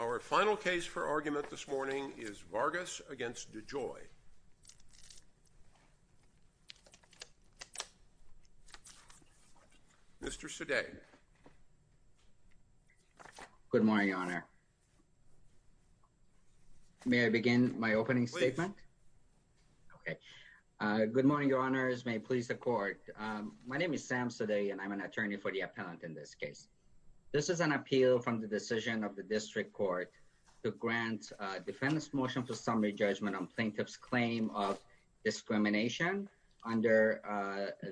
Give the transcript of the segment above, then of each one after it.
Our final case for argument this morning is Vargas v. DeJoy. Mr. Sade. Good morning, Your Honor. May I begin my opening statement? Please. Okay. Good morning, Your Honors. May it please the Court. My name is Sam Sade and I'm an attorney for the appellant in this case. This is an appeal from the decision of the District Court to grant a defense motion for summary judgment on plaintiff's claim of discrimination under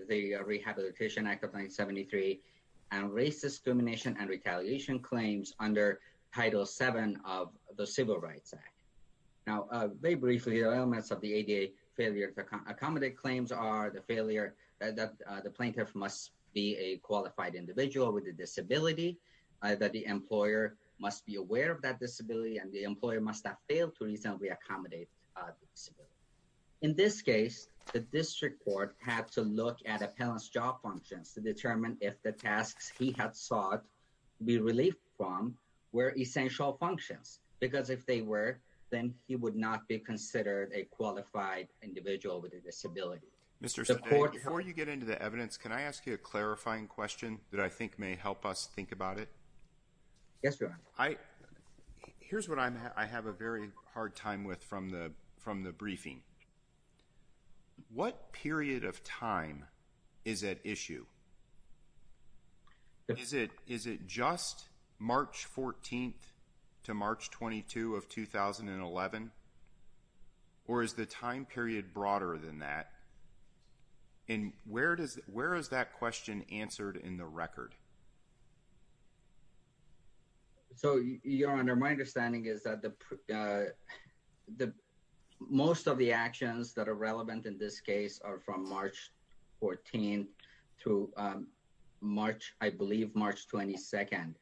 the Rehabilitation Act of 1973 and racist discrimination and retaliation claims under Title VII of the Civil Rights Act. Now, very briefly, the elements of the ADA failure to accommodate claims are the failure that the plaintiff must be a qualified individual with a disability, that the employer must be aware of that disability, and the employer must not fail to reasonably accommodate disability. In this case, the District Court had to look at appellant's job functions to determine if the tasks he had sought to be relieved from were essential functions, because if they were, then he would not be considered a qualified individual with a disability. Mr. Sade, before you get into the evidence, can I ask you a clarifying question that I think may help us think about it? Yes, Your Honor. Here's what I have a very hard time with from the briefing. What period of time is at issue? Is it just March 14th to March 22 of 2011? Or is the time period broader than that? And where is that question answered in the record? So Your Honor, my understanding is that most of the actions that are relevant in this case are from March 14th to March, I believe March 22nd.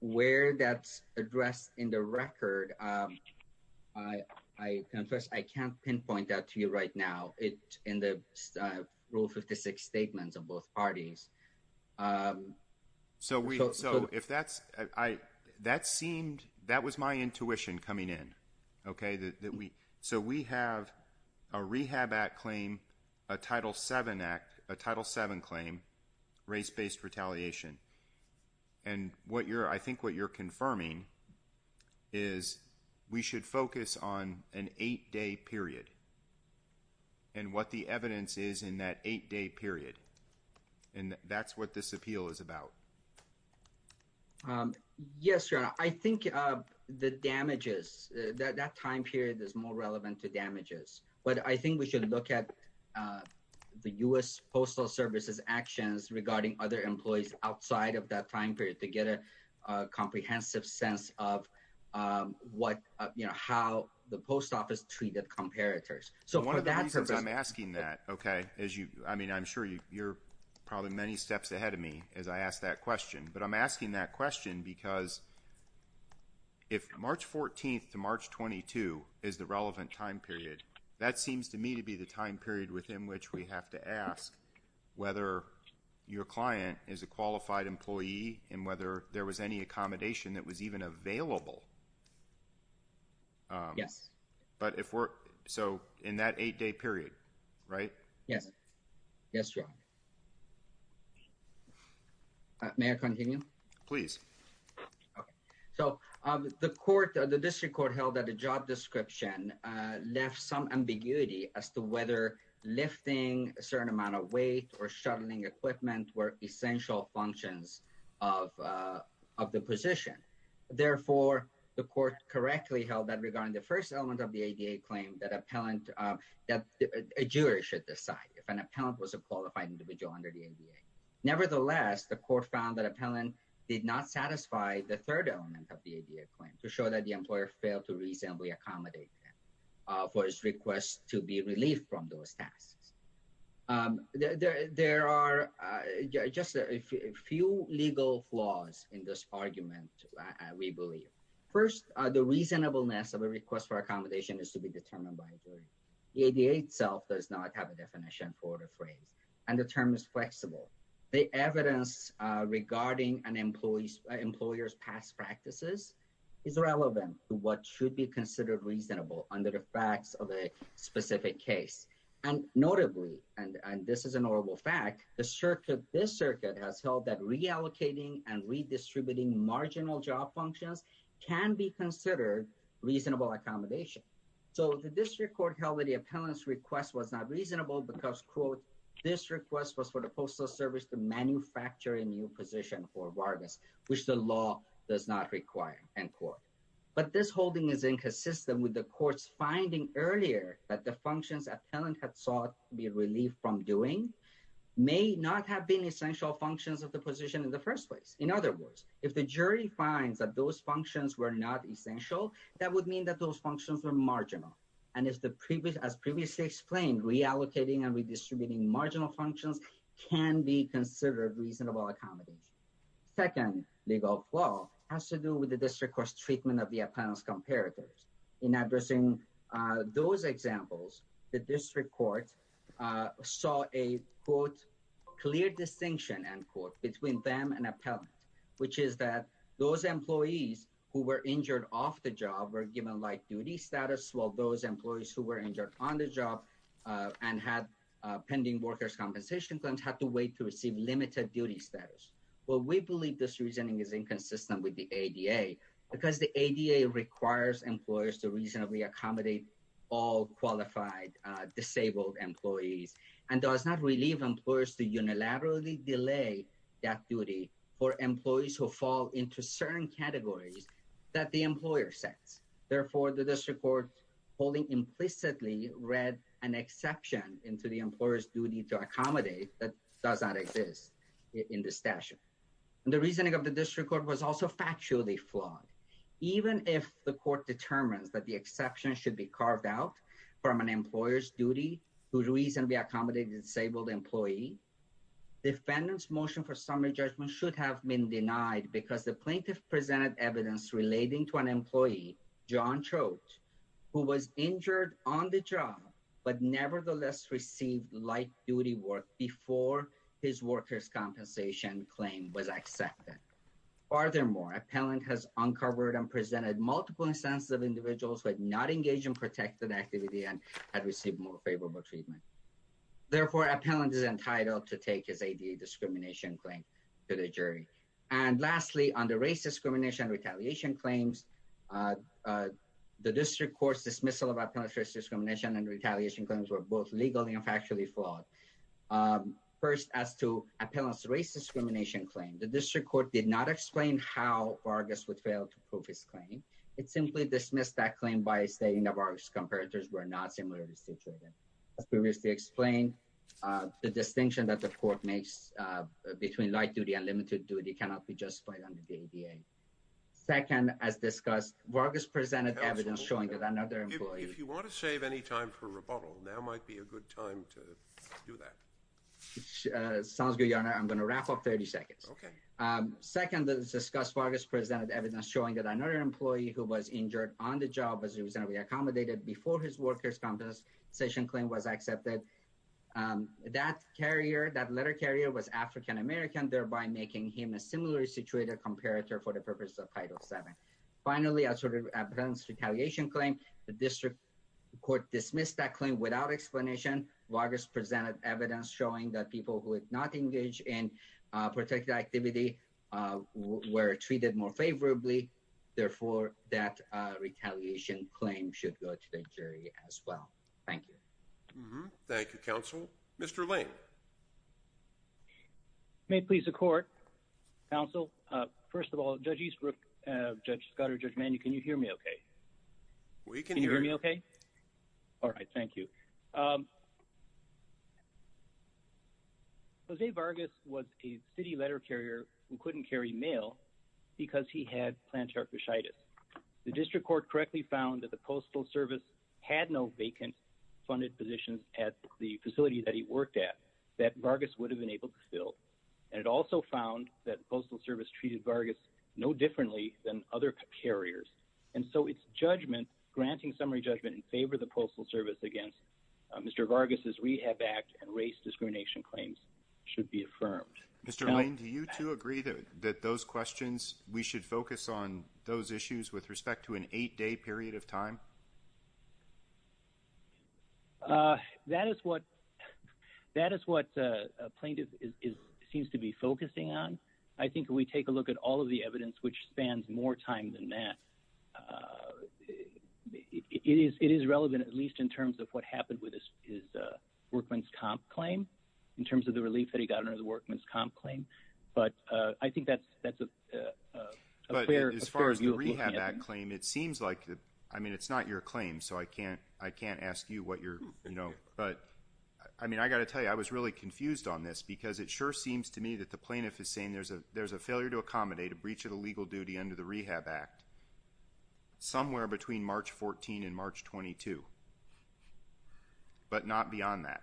Where that's addressed in the record, I confess I can't pinpoint that to you right now in the Rule 56 statements of both parties. So if that's, that seemed, that was my intuition coming in, okay? So we have a Rehab Act claim, a Title VII Act, a Title VII claim, race-based retaliation. And what you're, I think what you're confirming is we should focus on an eight-day period and what the evidence is in that eight-day period. And that's what this appeal is about. Yes, Your Honor. I think the damages, that time period is more relevant to damages. But I think we should look at the U.S. Postal Service's actions regarding other employees outside of that time period to get a comprehensive sense of what, you know, how the post office treated comparators. So for that purpose. One of the reasons I'm asking that, okay, as you, I mean, I'm sure you're probably many steps ahead of me as I ask that question. But I'm asking that question because if March 14th to March 22nd is the relevant time period, that seems to me to be the time period within which we have to ask whether your client is a qualified employee and whether there was any accommodation that was even available. Yes. But if we're, so in that eight-day period, right? Yes. Yes, Your Honor. May I continue? Please. Okay. So the court, the district court held that the job description left some ambiguity as to whether lifting a certain amount of weight or shuttling equipment were essential functions of the position. Therefore, the court correctly held that regarding the first element of the ADA claim, that appellant, that a jury should decide if an appellant was a qualified individual under the ADA. Nevertheless, the court found that appellant did not satisfy the third element of the ADA claim to show that the employer failed to reasonably accommodate for his request to be relieved from those tasks. There are just a few legal flaws in this argument, we believe. First, the reasonableness of a request for accommodation is to be determined by a jury. The ADA itself does not have a definition for the phrase and the term is flexible. The evidence regarding an employee's employer's past practices is relevant to what should be considered reasonable under the facts of a specific case. And notably, and this is an honorable fact, the circuit, this circuit has held that reallocating and redistributing marginal job functions can be considered reasonable accommodation. So the district court held that the appellant's request was not reasonable because, quote, this request was for the Postal Service to manufacture a new position for Vargas, which the law does not require, end quote. But this holding is inconsistent with the court's finding earlier that the functions appellant had sought to be relieved from doing may not have been essential functions of the position in the first place. In other words, if the jury finds that those functions were not essential, that would mean that those functions were marginal. And as previously explained, reallocating and redistributing marginal functions can be considered reasonable accommodation. Second, legal flow has to do with the district court's treatment of the appellant's comparators. In addressing those examples, the district court saw a, quote, clear distinction, end quote, between them and appellant, which is that those employees who were injured off the job were given light duty status, while those employees who were injured on the job and had pending workers' compensation claims had to wait to receive limited duty status. Well, we believe this reasoning is inconsistent with the ADA because the ADA requires employers to reasonably accommodate all qualified disabled employees and does not relieve employers to unilaterally delay that duty for employees who fall into certain categories that the employer sets. Therefore, the district court holding implicitly read an exception into the employer's duty to accommodate that does not exist in the statute. And the reasoning of the district court was also factually flawed. Even if the court determines that the exception should be carved out from an employer's duty to reasonably accommodate a disabled employee, defendant's motion for summary judgment should have been denied because the plaintiff presented evidence relating to an John Troat who was injured on the job, but nevertheless received light duty work before his workers' compensation claim was accepted. Furthermore, appellant has uncovered and presented multiple instances of individuals who had not engaged in protected activity and had received more favorable treatment. Therefore, appellant is entitled to take his ADA discrimination claim to the jury. And lastly, on the race discrimination and retaliation claims, the district court's dismissal of appellant's discrimination and retaliation claims were both legally and factually flawed. First, as to appellant's race discrimination claim, the district court did not explain how Vargas would fail to prove his claim. It simply dismissed that claim by stating that Vargas' comparators were not similarly situated. As previously explained, the distinction that the court makes between light duty and limited duty cannot be justified under the ADA. Second, as discussed, Vargas presented evidence showing that another employee... If you want to save any time for rebuttal, now might be a good time to do that. Sounds good, Your Honor. I'm going to wrap up 30 seconds. Okay. Second, as discussed, Vargas presented evidence showing that another employee who was injured on the job as he was going to be accommodated before his workers' compensation claim was accepted. That carrier, that letter carrier was African-American, thereby making him a similarly situated comparator for the purposes of Title VII. Finally, as to appellant's retaliation claim, the district court dismissed that claim without explanation. Vargas presented evidence showing that people who did not engage in protected activity were treated more favorably. Therefore, that retaliation claim should go to the jury as well. Thank you. Thank you, counsel. Mr. Lane. May it please the court, counsel. First of all, Judge Eastbrook, Judge Scott or Judge Manning, can you hear me okay? We can hear you. Can you hear me okay? All right, thank you. Jose Vargas was a city letter carrier who couldn't carry mail because he had plantar fasciitis. The district court correctly found that the Postal Service had no vacant funded positions at the facility that he worked at that Vargas would have been able to fill. And it also found that the Postal Service treated Vargas no differently than other carriers. And so its judgment, granting summary judgment in favor of the Postal Service against Mr. Vargas' Rehab Act and race discrimination claims should be affirmed. Mr. Lane, do you two agree that those questions, we should focus on those issues with respect to an eight-day period of time? That is what a plaintiff seems to be focusing on. I think we take a look at all of the evidence, which spans more time than that. It is relevant, at least in terms of what happened with his workman's comp claim, in But I think that's a fair view of what we have. As far as the Rehab Act claim, it seems like, I mean, it's not your claim, so I can't ask you what your, you know, but I mean, I got to tell you, I was really confused on this because it sure seems to me that the plaintiff is saying there's a failure to accommodate a breach of the legal duty under the Rehab Act somewhere between March 14 and March 22, but not beyond that.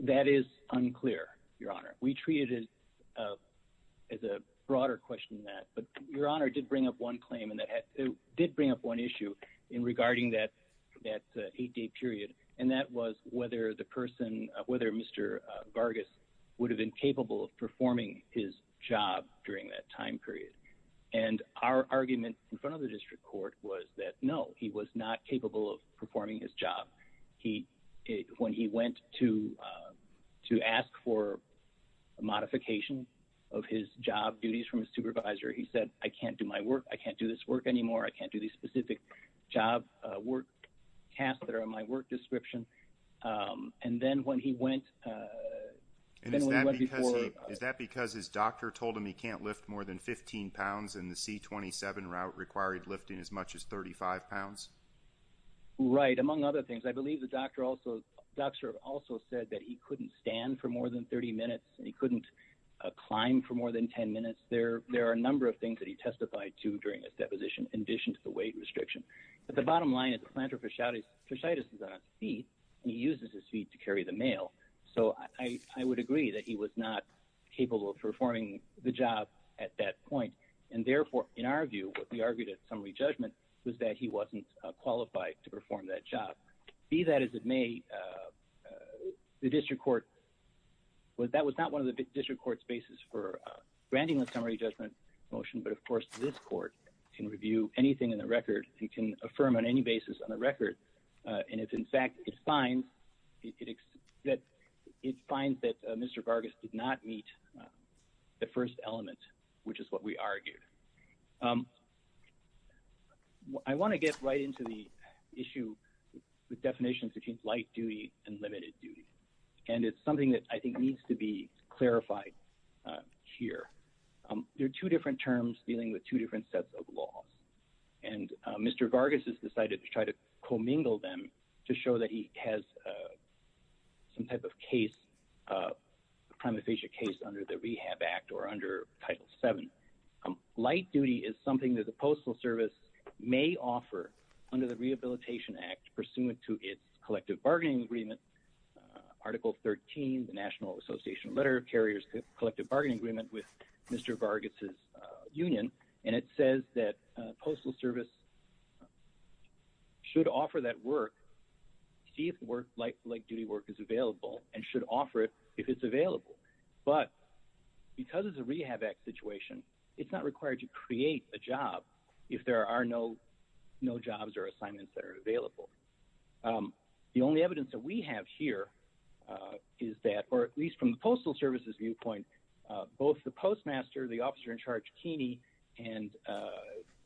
That is unclear, Your Honor. We treat it as a broader question than that, but Your Honor did bring up one claim, did bring up one issue in regarding that eight-day period, and that was whether the person, whether Mr. Vargas would have been capable of performing his job during that time period, and our argument in front of the district court was that no, he was not capable of performing his job. He, when he went to ask for a modification of his job duties from his supervisor, he said, I can't do my work, I can't do this work anymore, I can't do these specific job work tasks that are in my work description, and then when he went, And is that because his doctor told him he can't lift more than 15 pounds and the C-27 route required lifting as much as 35 pounds? Right. Among other things, I believe the doctor also said that he couldn't stand for more than 30 minutes and he couldn't climb for more than 10 minutes. There are a number of things that he testified to during his deposition in addition to the weight restriction, but the bottom line is plantar fasciitis is on his feet and he uses his feet to carry the mail, so I would agree that he was not capable of performing the job at that point, and therefore, in our view, what we argued at summary judgment was that he wasn't qualified to perform that job. Be that as it may, the district court, that was not one of the district court's basis for granting a summary judgment motion, but of course, this court can review anything in the record, it can affirm on any basis on the record, and if in fact it finds that Mr. Vargas did not meet the first element, which is what we argued. I want to get right into the issue with definitions between light duty and limited duty, and it's something that I think needs to be clarified here. There are two different terms dealing with two different sets of laws, and Mr. Vargas has decided to try to commingle them to show that he has some type of case, a prima facie case under the Rehab Act or under Title VII. Light duty is something that the Postal Service may offer under the Rehabilitation Act pursuant to its collective bargaining agreement, Article 13, the National Association of Letter Carriers collective bargaining agreement with Mr. Vargas's union, and it says that the Postal Service should offer that work, see if light duty work is available, and should offer it if it's available, but because it's a Rehab Act situation, it's not required to create a job if there are no jobs or assignments that are available. The only evidence that we have here is that, or at least from the Postal Service's viewpoint, both the postmaster, the officer in charge, Keeney, and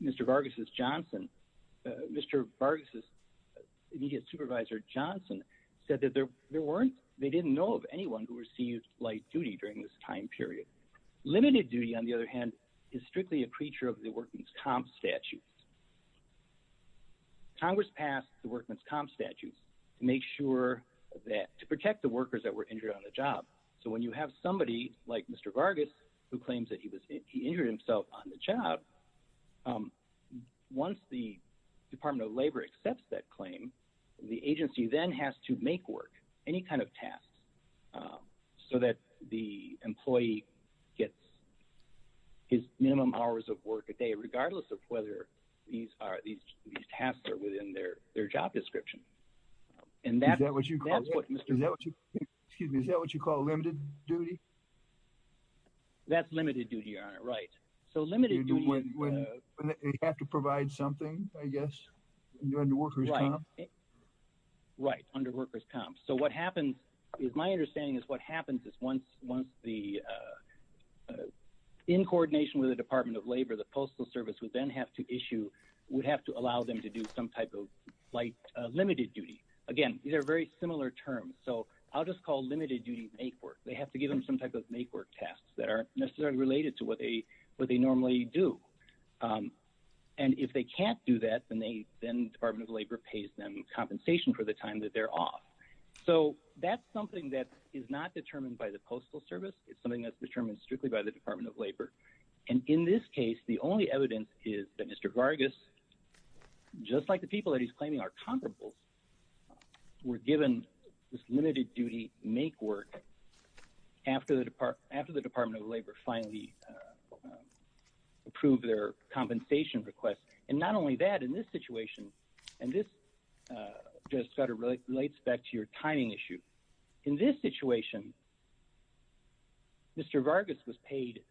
Mr. Vargas's Johnson, Mr. Vargas's supervisor Johnson said that there weren't, they didn't know of anyone who received light duty during this time period. Limited duty, on the other hand, is strictly a creature of the Workman's Comp Statute. Congress passed the Workman's Comp Statute to make sure that, to protect the workers that were injured on the job, so when you have somebody like Mr. Vargas who claims that he was, he injured himself on the job, once the Department of Labor accepts that claim, the agency then has to make work, any kind of tasks, so that the employee gets his minimum hours of work a day, regardless of whether these tasks are within their job description, and that's what Mr. Vargas said. Is that what you call limited duty? That's limited duty, Your Honor, right. So limited duty is when they have to provide something, I guess, under worker's comp? Right, under worker's comp. So what happens, is my understanding is what happens is once the, in coordination with the Department of Labor, the Postal Service would then have to issue, would have to allow them to do some type of like limited duty. Again, these are very similar terms, so I'll just call limited duty make work. They have to give them some type of make work tasks that aren't necessarily related to what they normally do. And if they can't do that, then the Department of Labor pays them compensation for the time that they're off. So that's something that is not determined by the Postal Service, it's something that's determined strictly by the Department of Labor. And in this case, the only evidence is that Mr. Vargas, just like the people that he's claiming are comparables, were given this limited duty make work after the Department of Labor finally approved their compensation request. And not only that, in this situation, and this just kind of relates back to your timing issue. In this situation, Mr. Vargas was paid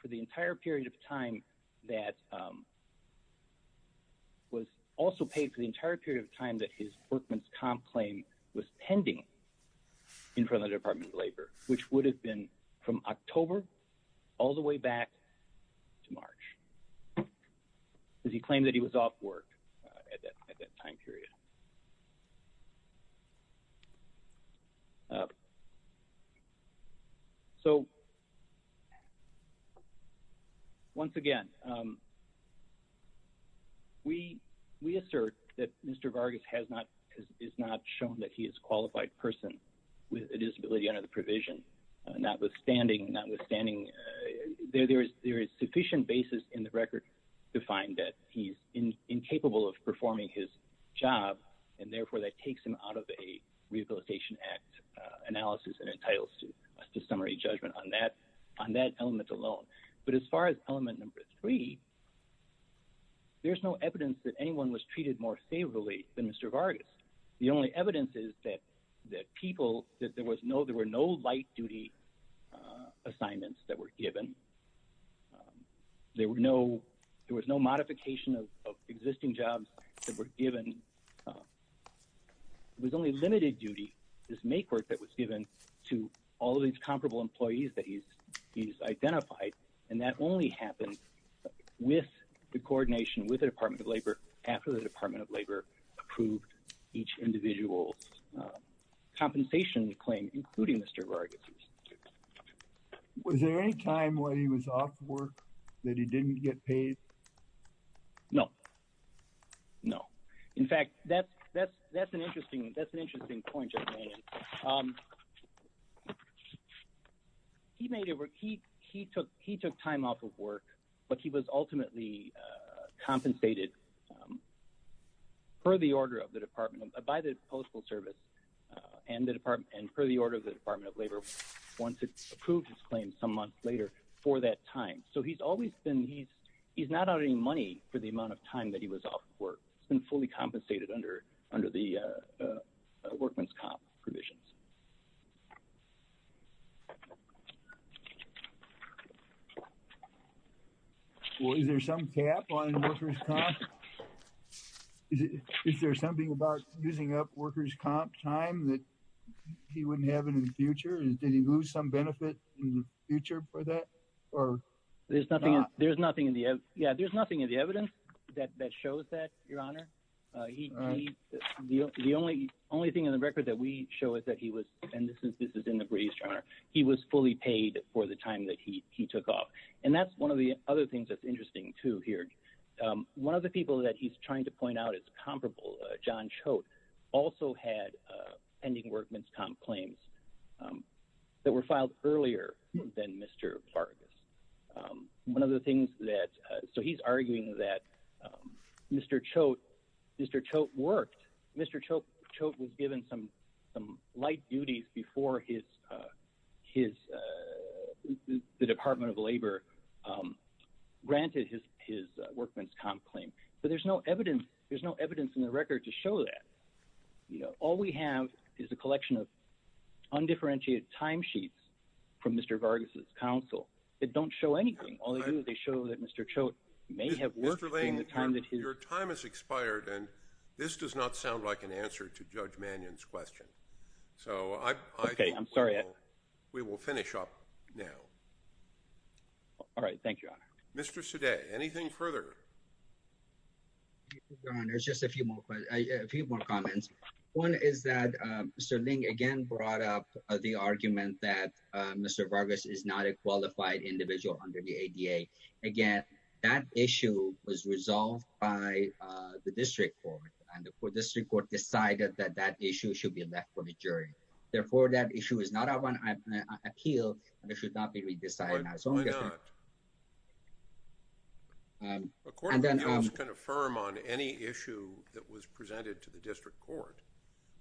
for the entire period of time that was also paid for the entire period of time that his workman's comp claim was pending in front of the Department of Labor, which would have been from October all the way back to March, because he claimed that he was off work at that time period. So once again, we assert that Mr. Vargas has not shown that he is a qualified person with a disability under the provision, notwithstanding there is sufficient basis in the record to find that he's incapable of performing his job, and therefore that takes him out of a Rehabilitation Act analysis and entitles us to summary judgment on that element alone. But as far as element number three, there's no evidence that anyone was treated more favorably than Mr. Vargas. The only evidence is that there were no light duty assignments that were given. There was no modification of existing jobs that were given. It was only limited duty, this make work that was given to all these comparable employees that he's identified, and that only happened with the coordination with the Department of Labor after the Department of Labor approved each individual's compensation claim, including Mr. Vargas's. Was there any time when he was off work that he didn't get paid? No. No. In fact, that's an interesting point. He took time off of work, but he was ultimately compensated per the order of the Department of Labor, by the Postal Service, and per the order of the Department of Labor once it approved his claim some months later for that time. So he's always been, he's not out any money for the amount of time that he was off work. He's been fully compensated under the workman's comp provisions. Well, is there some cap on workers' comp? Is there something about using up workers' comp time that he wouldn't have in the future? Did he lose some benefit in the future for that? There's nothing in the, yeah, there's nothing in the evidence that shows that, Your Honor. The only thing in the record that we show is that he was, and this is in the briefs, he was fully paid for the time that he took off. And that's one of the other things that's interesting too here. One of the people that he's trying to point out is comparable. John Choate also had pending workman's comp claims that were filed earlier than Mr. Vargas. One of the things that, so he's arguing that Mr. Choate worked. Mr. Choate was given some light duties before the Department of Labor granted his workman's comp claim. But there's no evidence in the record to show that. All we have is a collection of undifferentiated time from Mr. Vargas' counsel. They don't show anything. All they do is they show that Mr. Choate may have worked in the time that he- Mr. Ling, your time has expired and this does not sound like an answer to Judge Mannion's question. So I- Okay, I'm sorry. We will finish up now. All right. Thank you, Your Honor. Mr. Sadeh, anything further? Your Honor, there's just a few more, a few more comments. One is that Mr. Ling again brought up the argument that Mr. Vargas is not a qualified individual under the ADA. Again, that issue was resolved by the District Court and the District Court decided that that issue should be left for the jury. Therefore, that issue is not up on appeal and it should not be re-decided. A court of appeals can affirm on any issue that was presented to the District Court.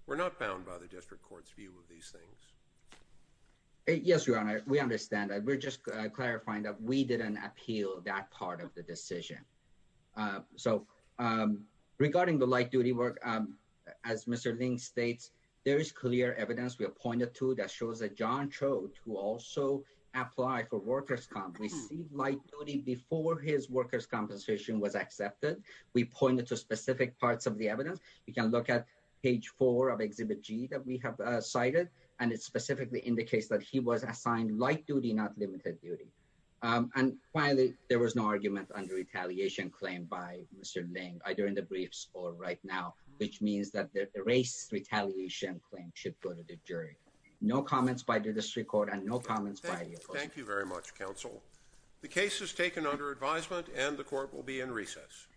We're not bound by the District Court's view of these things. Yes, Your Honor, we understand. We're just clarifying that we didn't appeal that part of the decision. So regarding the light duty work, as Mr. Ling states, there is clear evidence we have pointed to that shows that John Choate, who also applied for workers' comp, received light duty before his workers' compensation was accepted. We pointed to specific parts of the evidence. You can look at page four of Exhibit G that we have cited and it specifically indicates that he was assigned light duty, not limited duty. And finally, there was no argument under retaliation claim by Mr. Ling, either in the briefs or right now, which means that the race retaliation claim should go to the jury. No comments by the District Court and no comments by the appeals. Thank you very much, counsel. The case is taken under advisement and the court will be in recess.